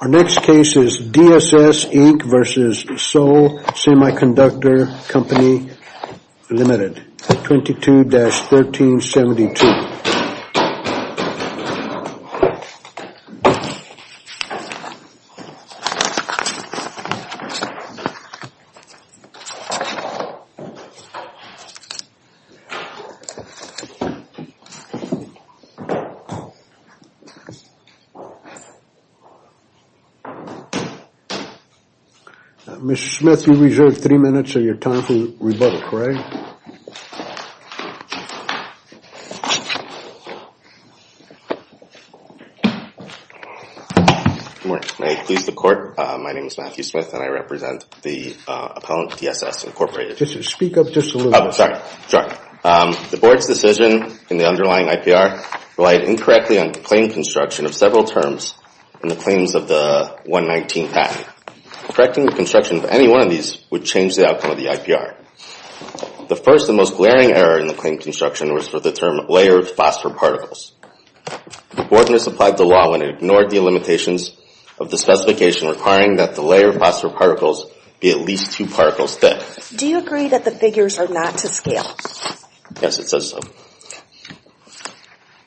Our next case is DSS, Inc. v. Seoul Semiconductor Co., Ltd., 22-1372. The board's decision in the underlying IPR relied incorrectly on plain construction of several terms in the claims of the 119th Act. Correcting the construction of any one of these would change the outcome of the IPR. The first and most glaring error in the claim construction was for the term, layered phosphor particles. The board misapplied the law when it ignored the limitations of the specification requiring that the layer of phosphor particles be at least two particles thick. Do you agree that the figures are not to scale? Yes, it says so.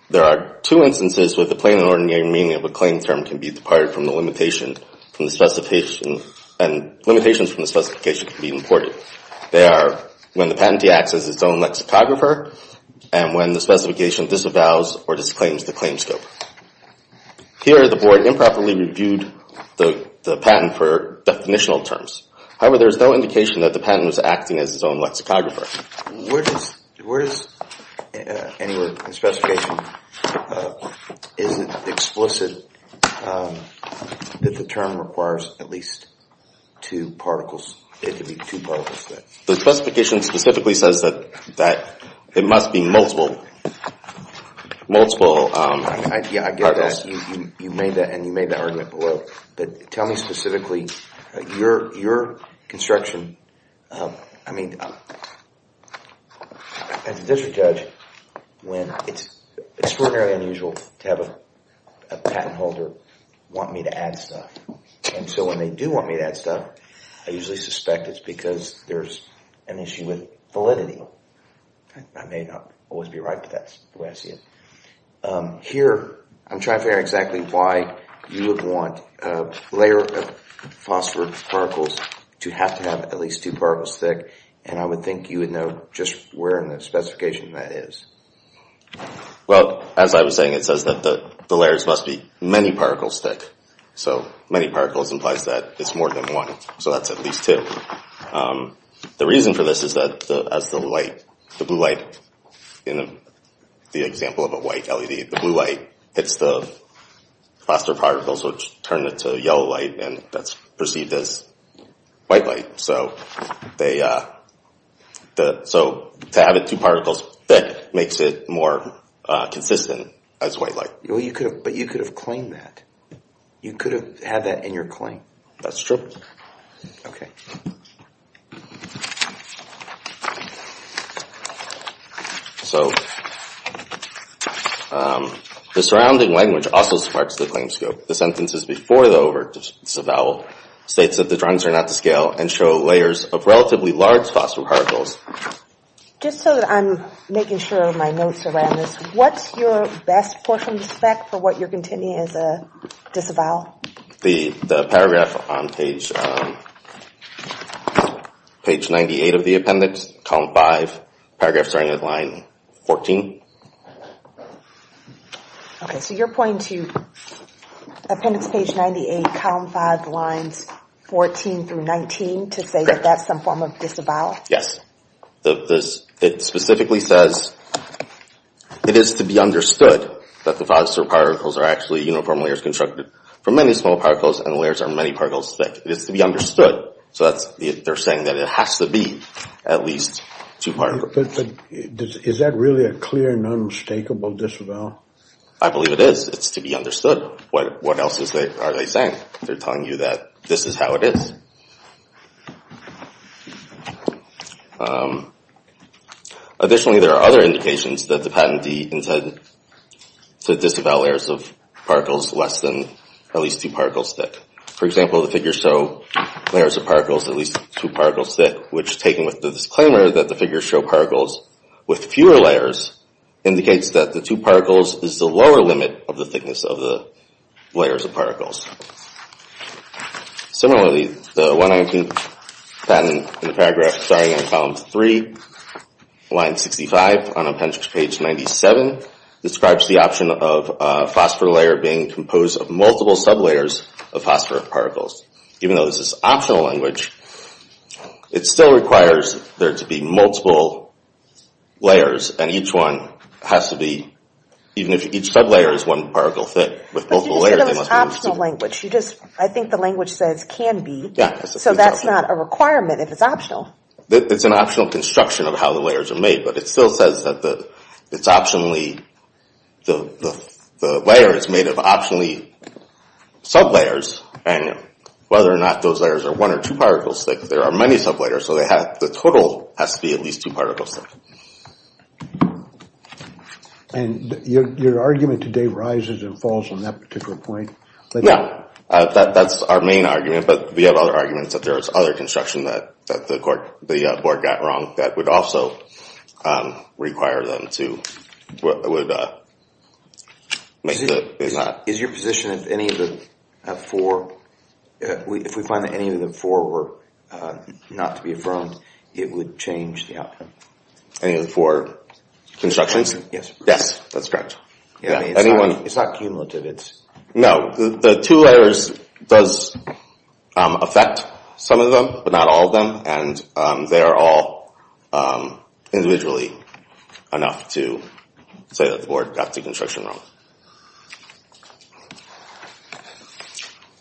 There are two instances where the plain and ordinary meaning of a claim term can be departed from the limitation and limitations from the specification can be imported. They are when the patentee acts as its own lexicographer and when the specification disavows or disclaims the claim scope. Here the board improperly reviewed the patent for definitional terms. However, there is no indication that the patent was acting as its own lexicographer. Where does anywhere in the specification, is it explicit that the term requires at least two particles, it to be two particles thick? The specification specifically says that it must be multiple, multiple particles. I get that. You made that and you made that argument below, but tell me specifically, your construction, I mean, as a district judge, when it's extraordinarily unusual to have a patent holder want me to add stuff. And so when they do want me to add stuff, I usually suspect it's because there's an issue with validity. I may not always be right, but that's the way I see it. Here, I'm trying to figure out exactly why you would want a layer of phosphor particles to have to have at least two particles thick. And I would think you would know just where in the specification that is. Well, as I was saying, it says that the layers must be many particles thick. So many particles implies that it's more than one. So that's at least two. The reason for this is that as the light, the blue light, in the example of a white LED, the blue light hits the phosphor particles, which turn it to yellow light and that's perceived as white light. So to have it two particles thick makes it more consistent as white light. But you could have claimed that. You could have had that in your claim. That's true. So the surrounding language also sparks the claim scope. The sentences before the disavowal states that the drugs are not to scale and show layers of relatively large phosphor particles. Just so that I'm making sure my notes are in this, what's your best portion spec for what you're continuing as a disavowal? The paragraph on page 98 of the appendix, column 5, paragraph starting at line 14. Okay, so your point to appendix page 98, column 5, lines 14 through 19 to say that that's some form of disavowal? Yes. It specifically says it is to be understood that the phosphor particles are actually uniform layers constructed from many small particles and the layers are many particles thick. It is to be understood. So they're saying that it has to be at least two particles. But is that really a clear and unmistakable disavowal? I believe it is. It's to be understood. What else are they saying? They're telling you that this is how it is. Additionally, there are other indications that the patentee intended to disavow layers of particles less than at least two particles thick. For example, the figures show layers of particles at least two particles thick, which taken with the disclaimer that the figures show particles with fewer layers indicates that the two particles is the lower limit of the thickness of the layers of particles. Similarly, the 119 patent in the paragraph starting in column 3, line 65 on appendix page 97 describes the option of a phosphor layer being composed of multiple sub-layers of phosphor particles. Even though this is optional language, it still requires there to be multiple layers and each one has to be, even if each sub-layer is one particle thick with multiple layers they must be the same. But you just said it was optional language. You just, I think the language says can be, so that's not a requirement if it's optional. It's an optional construction of how the layers are made, but it still says that it's optionally, the layer is made of optionally sub-layers and whether or not those layers are one or two particles thick, there are many sub-layers, so they have, the total has to be at least two particles thick. And your argument today rises and falls on that particular point? No, that's our main argument, but we have other arguments that there is other construction that the board got wrong that would also require them to, would make the, if not. Is your position if any of the four, if we find that any of the four were not to be affirmed, it would change the outcome? Any of the four constructions? Yes. Yes, that's correct. I mean, it's not cumulative, it's. No, the two layers does affect some of them, but not all of them, and they are all individually enough to say that the board got the construction wrong.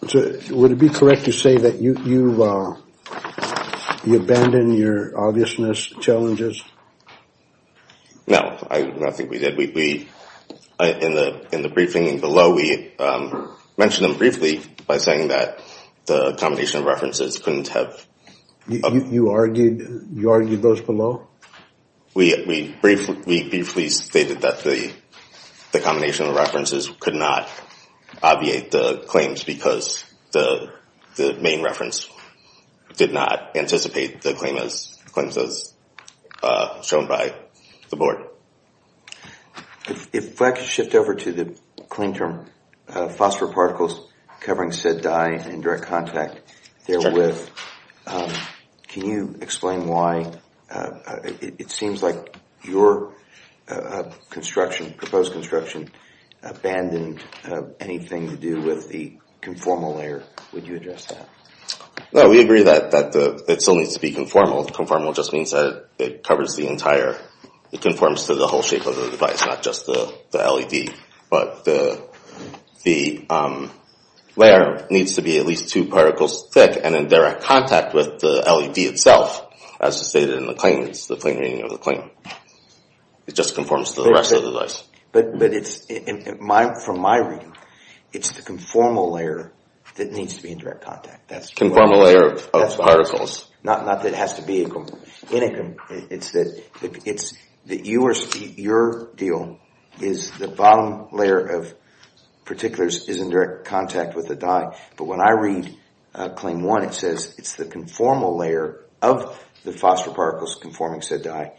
Would it be correct to say that you abandoned your obviousness challenges? No, I don't think we did. We, in the briefing below, we mentioned them briefly by saying that the combination of references couldn't have. You argued those below? We briefly stated that the combination of references could not obviate the claims because the main reference did not anticipate the claims as shown by the board. If I could shift over to the claim term, phosphor particles covering said dye in direct contact, therewith, can you explain why it seems like your construction, proposed construction, abandoned anything to do with the conformal layer? Would you address that? No, we agree that it still needs to be conformal. Conformal just means that it covers the entire, it conforms to the whole shape of the device, not just the LED. But the layer needs to be at least two particles thick and in direct contact with the LED itself, as stated in the claims, the plain meaning of the claim. It just conforms to the rest of the device. But it's, from my reading, it's the conformal layer that needs to be in direct contact. The conformal layer of particles. Not that it has to be. Your deal is the bottom layer of particulars is in direct contact with the dye. But when I read claim one, it says it's the conformal layer of the phosphor particles conforming said dye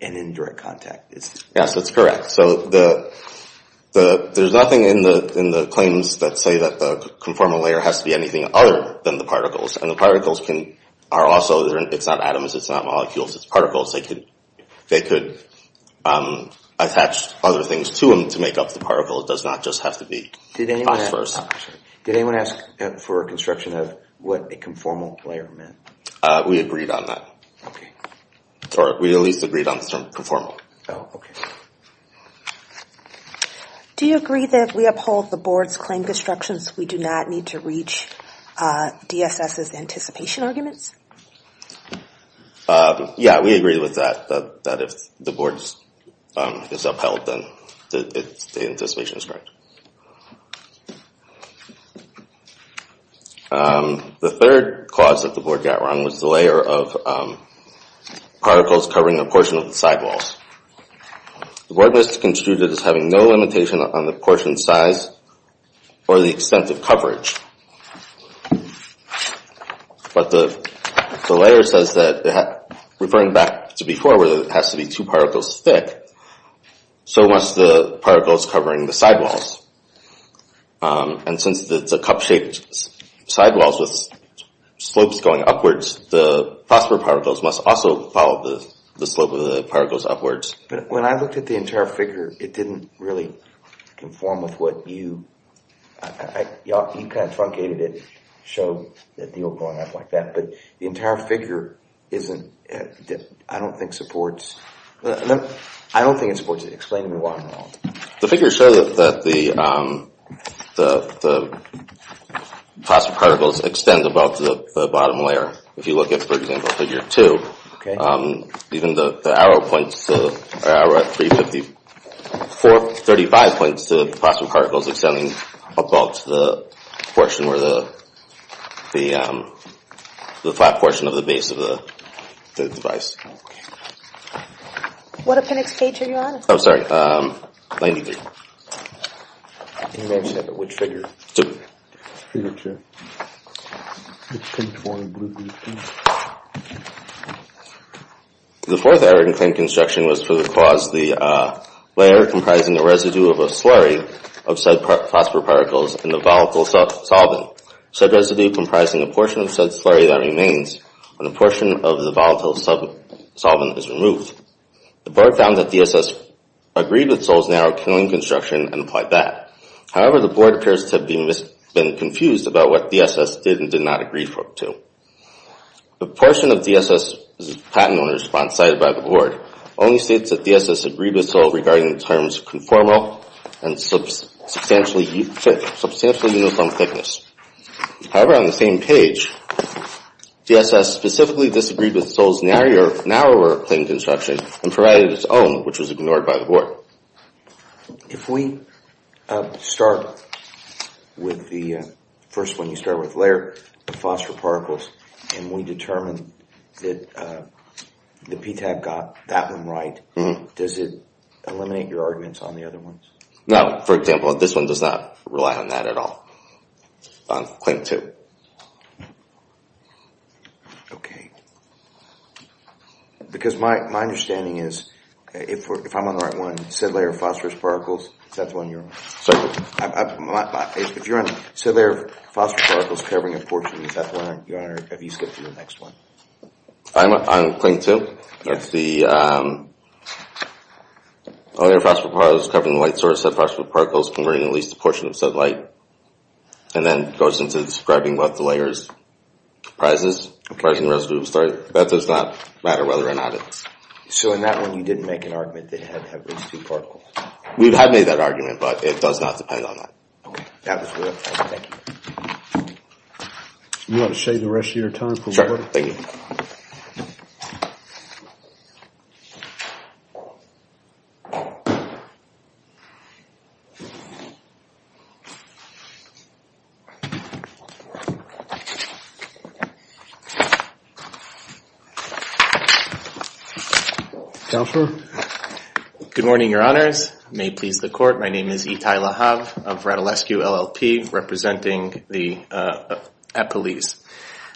and in direct contact. Yes, that's correct. So there's nothing in the claims that say that the conformal layer has to be anything other than the particles. And the particles are also, it's not atoms. It's not molecules. It's particles. They could attach other things to them to make up the particle. It does not just have to be phosphors. Did anyone ask for a construction of what a conformal layer meant? We agreed on that. We at least agreed on the term conformal. Do you agree that if we uphold the board's claim construction, we do not need to reach DSS's anticipation arguments? Yeah, we agree with that. That if the board is upheld, then the anticipation is correct. The third cause that the board got wrong was the layer of particles covering a portion of the sidewalls. The board was construed as having no limitation on the portion size or the extent of coverage. But the layer says that, referring back to before where it has to be two particles thick, so must the particles covering the sidewalls. And since it's a cup-shaped sidewalls with slopes going upwards, the phosphor particles must also follow the slope of the particles upwards. When I looked at the entire figure, it didn't really conform with what you... You kind of truncated it to show that it was going up like that. But the entire figure isn't... I don't think it supports... I don't think it supports it. Explain to me why I'm wrong. The figures show that the phosphor particles extend above the bottom layer. If you look at, for example, figure two, even the arrow points to... 35 points to the phosphor particles extending above the portion where the... The flat portion of the base of the device. What appendix cage are you on? I'm sorry, 93. Can you mention which figure? Figure two. It's conformed with these two. The fourth error in clean construction was for the cause the layer comprising a residue of a slurry of said phosphor particles in the volatile solvent. Such residue comprising a portion of said slurry that remains when a portion of the volatile solvent is removed. The board found that DSS agreed with Sol's narrow clean construction and applied that. However, the board appears to have been confused about what DSS did and did not agree to. The portion of DSS's patent owner's response cited by the board only states that DSS agreed with Sol regarding the terms conformal and substantially uniform thickness. However, on the same page, DSS specifically disagreed with Sol's narrower clean construction and provided its own, which was ignored by the board. So, if we start with the first one, you start with layer, the phosphor particles, and we determine that the PTAB got that one right, does it eliminate your arguments on the other ones? No, for example, this one does not rely on that at all, on claim two. Okay, because my understanding is, if I'm on the right one, said layer of phosphor particles, is that the one you're on? Sorry, if you're on said layer of phosphor particles covering a portion, is that the one you're on, or have you skipped to the next one? I'm on claim two. That's the layer of phosphor particles covering the light source, said phosphor particles covering at least a portion of said light, and then goes into describing what the layer comprises, comprising the rest of the story. That does not matter whether or not it's... So, in that one, you didn't make an argument that it had to have at least two particles? We have made that argument, but it does not depend on that. Okay, that was really helpful, thank you. You want to save the rest of your time? Sure, thank you. Counselor? Good morning, your honors. May it please the court, my name is Itay Lahav of Radulescu LLP, representing at police.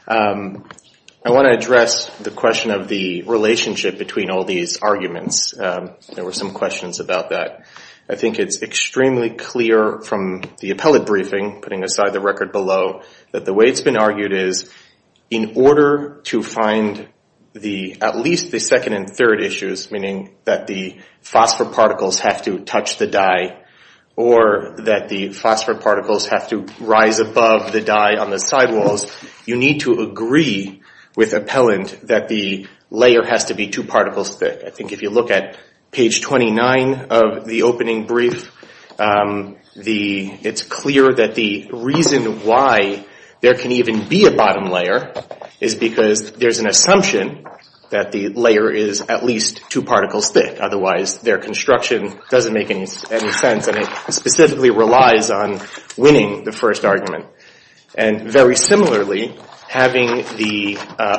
I want to address the question of the relationship between all these arguments. There were some questions about that. I think it's extremely clear from the appellate briefing, putting aside the record below, that the way it's been argued is, in order to find at least the second and third issues, meaning that the phosphor particles have to touch the dye, or that the phosphor particles have to rise above the dye on the sidewalls, you need to agree with appellant that the layer has to be two particles thick. If you look at page 29 of the opening brief, it's clear that the reason why there can even be a bottom layer is because there's an assumption that the layer is at least two particles thick. Otherwise, their construction doesn't make any sense, and it specifically relies on winning the first argument. And very similarly, having the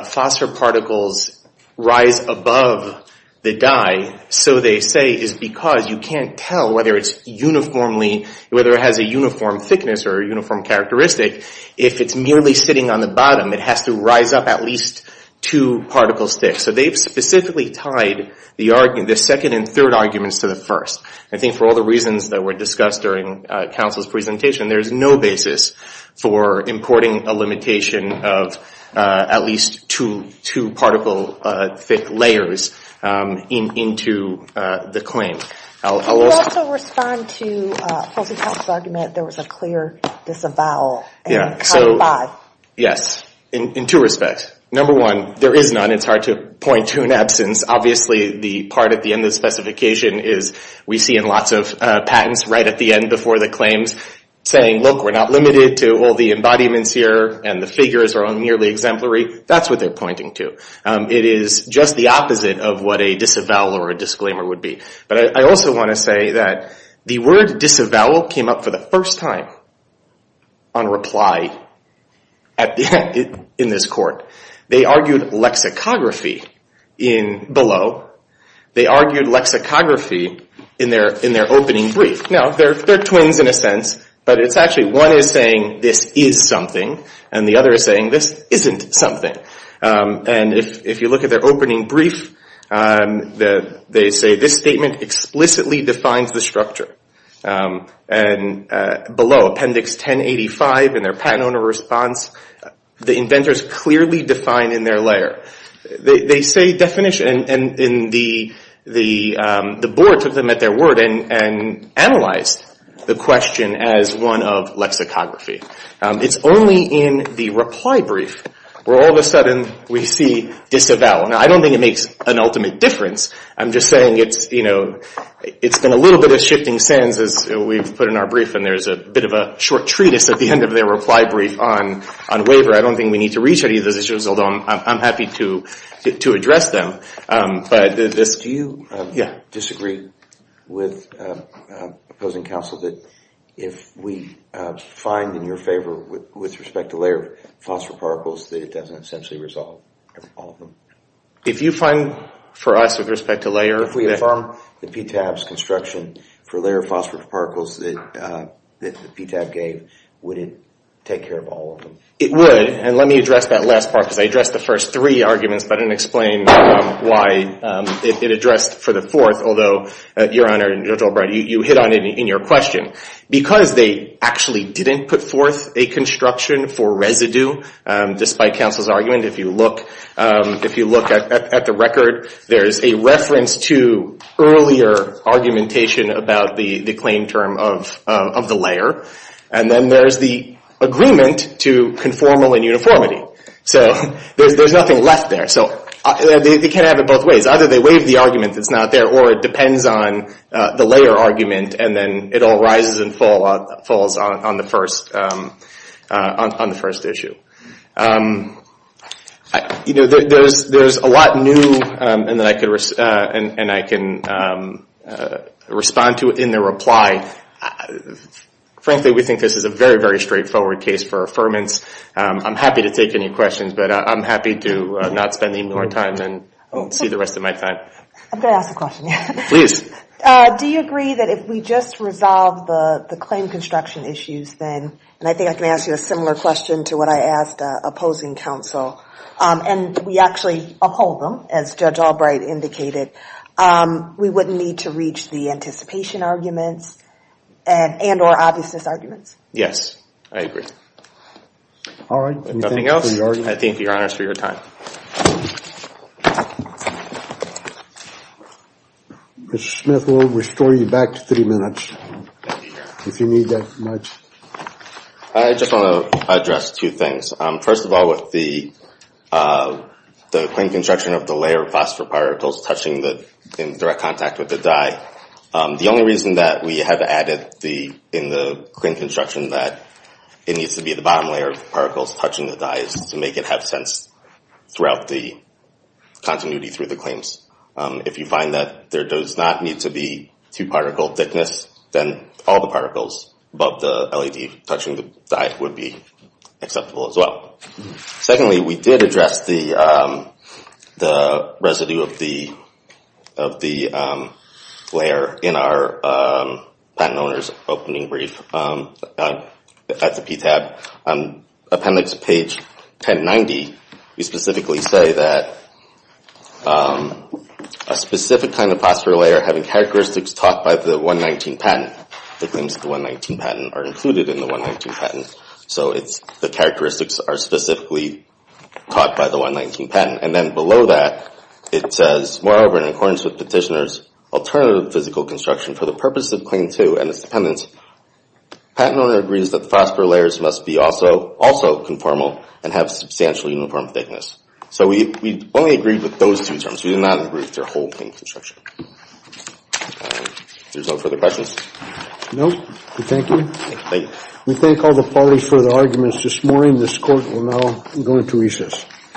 phosphor particles rise above the dye, so they say, is because you can't tell whether it has a uniform thickness or a uniform characteristic. If it's merely sitting on the bottom, it has to rise up at least two particles thick. So they've specifically tied the second and third arguments to the first. I think for all the reasons that were discussed during counsel's presentation, there's no basis for importing a limitation of at least two particle thick layers into the claim. I'll also respond to Kelsey's argument. There was a clear disavowal. Yes, in two respects. Number one, there is none. It's hard to point to an absence. Obviously, the part at the end of the specification is we see in lots of patents right at the end before the claims saying, look, we're not limited to all the embodiments here, and the figures are all nearly exemplary. That's what they're pointing to. It is just the opposite of what a disavowal or a disclaimer would be. But I also want to say that the word disavowal came up for the first time on reply in this court. They argued lexicography below. They argued lexicography in their opening brief. Now, they're twins in a sense, but it's actually one is saying this is something, and the other is saying this isn't something. And if you look at their opening brief, they say this statement explicitly defines the structure. And below, appendix 1085 in their patent owner response, the inventors clearly define in their layer. They say definition, and the board took them at their word and analyzed the question as one of lexicography. It's only in the reply brief where all of a sudden we see disavowal. Now, I don't think it makes an ultimate difference. I'm just saying it's been a little bit of shifting sands as we've put in our brief, and there's a bit of a short treatise at the end of their reply brief on waiver. I don't think we need to reach any of those issues, although I'm happy to address them. Do you disagree with opposing counsel that if we find in your favor with respect to layer phosphor particles that it doesn't essentially resolve all of them? If you find for us with respect to layer. If we inform the PTAB's construction for layer phosphor particles that the PTAB gave, would it take care of all of them? It would, and let me address that last part because I addressed the first three arguments, but I didn't explain why it addressed for the fourth. Although, Your Honor and Judge Albright, you hit on it in your question. Because they actually didn't put forth a construction for residue, despite counsel's argument, if you look at the record, there's a reference to earlier argumentation about the claim term of the layer. And then there's the agreement to conformal and uniformity. So there's nothing left there. So they can't have it both ways. Either they waive the argument that's not there, or it depends on the layer argument, and then it all rises and falls on the first issue. There's a lot new, and I can respond to it in the reply. Frankly, we think this is a very, very straightforward case for affirmance. I'm happy to take any questions, but I'm happy to not spend any more time and see the rest of my time. I'm going to ask a question. Please. Do you agree that if we just resolve the claim construction issues then, and I think I can ask you a similar question to what I asked opposing counsel, and we actually uphold them, as Judge Albright indicated, we wouldn't need to reach the anticipation arguments and or obviousness arguments? Yes, I agree. All right. Anything else? I thank your Honor for your time. Mr. Smith, we'll restore you back to three minutes, if you need that much. I just want to address two things. First of all, with the claim construction of the layer of phosphor particles touching the, in direct contact with the dye, the only reason that we have added in the claim construction that it needs to be the bottom layer of particles touching the dye is to make it have sense throughout the continuity through the claims. If you find that there does not need to be two-particle thickness, then all the particles above the LED touching the dye would be acceptable as well. Secondly, we did address the residue of the layer in our patent owner's opening brief at the PTAB. On appendix page 1090, we specifically say that a specific kind of phosphor layer having characteristics taught by the 119 patent. The claims of the 119 patent are included in the 119 patent. So the characteristics are specifically taught by the 119 patent. And then below that, it says, moreover, in accordance with petitioner's alternative physical construction for the purpose of claim two and its dependence, patent owner agrees that the phosphor layers must be also conformal and have substantial uniform thickness. So we only agreed with those two terms. We did not agree with their whole claim construction. There's no further questions? No. Thank you. Thank you. We thank all the parties for the arguments this morning. This court will now go into recess.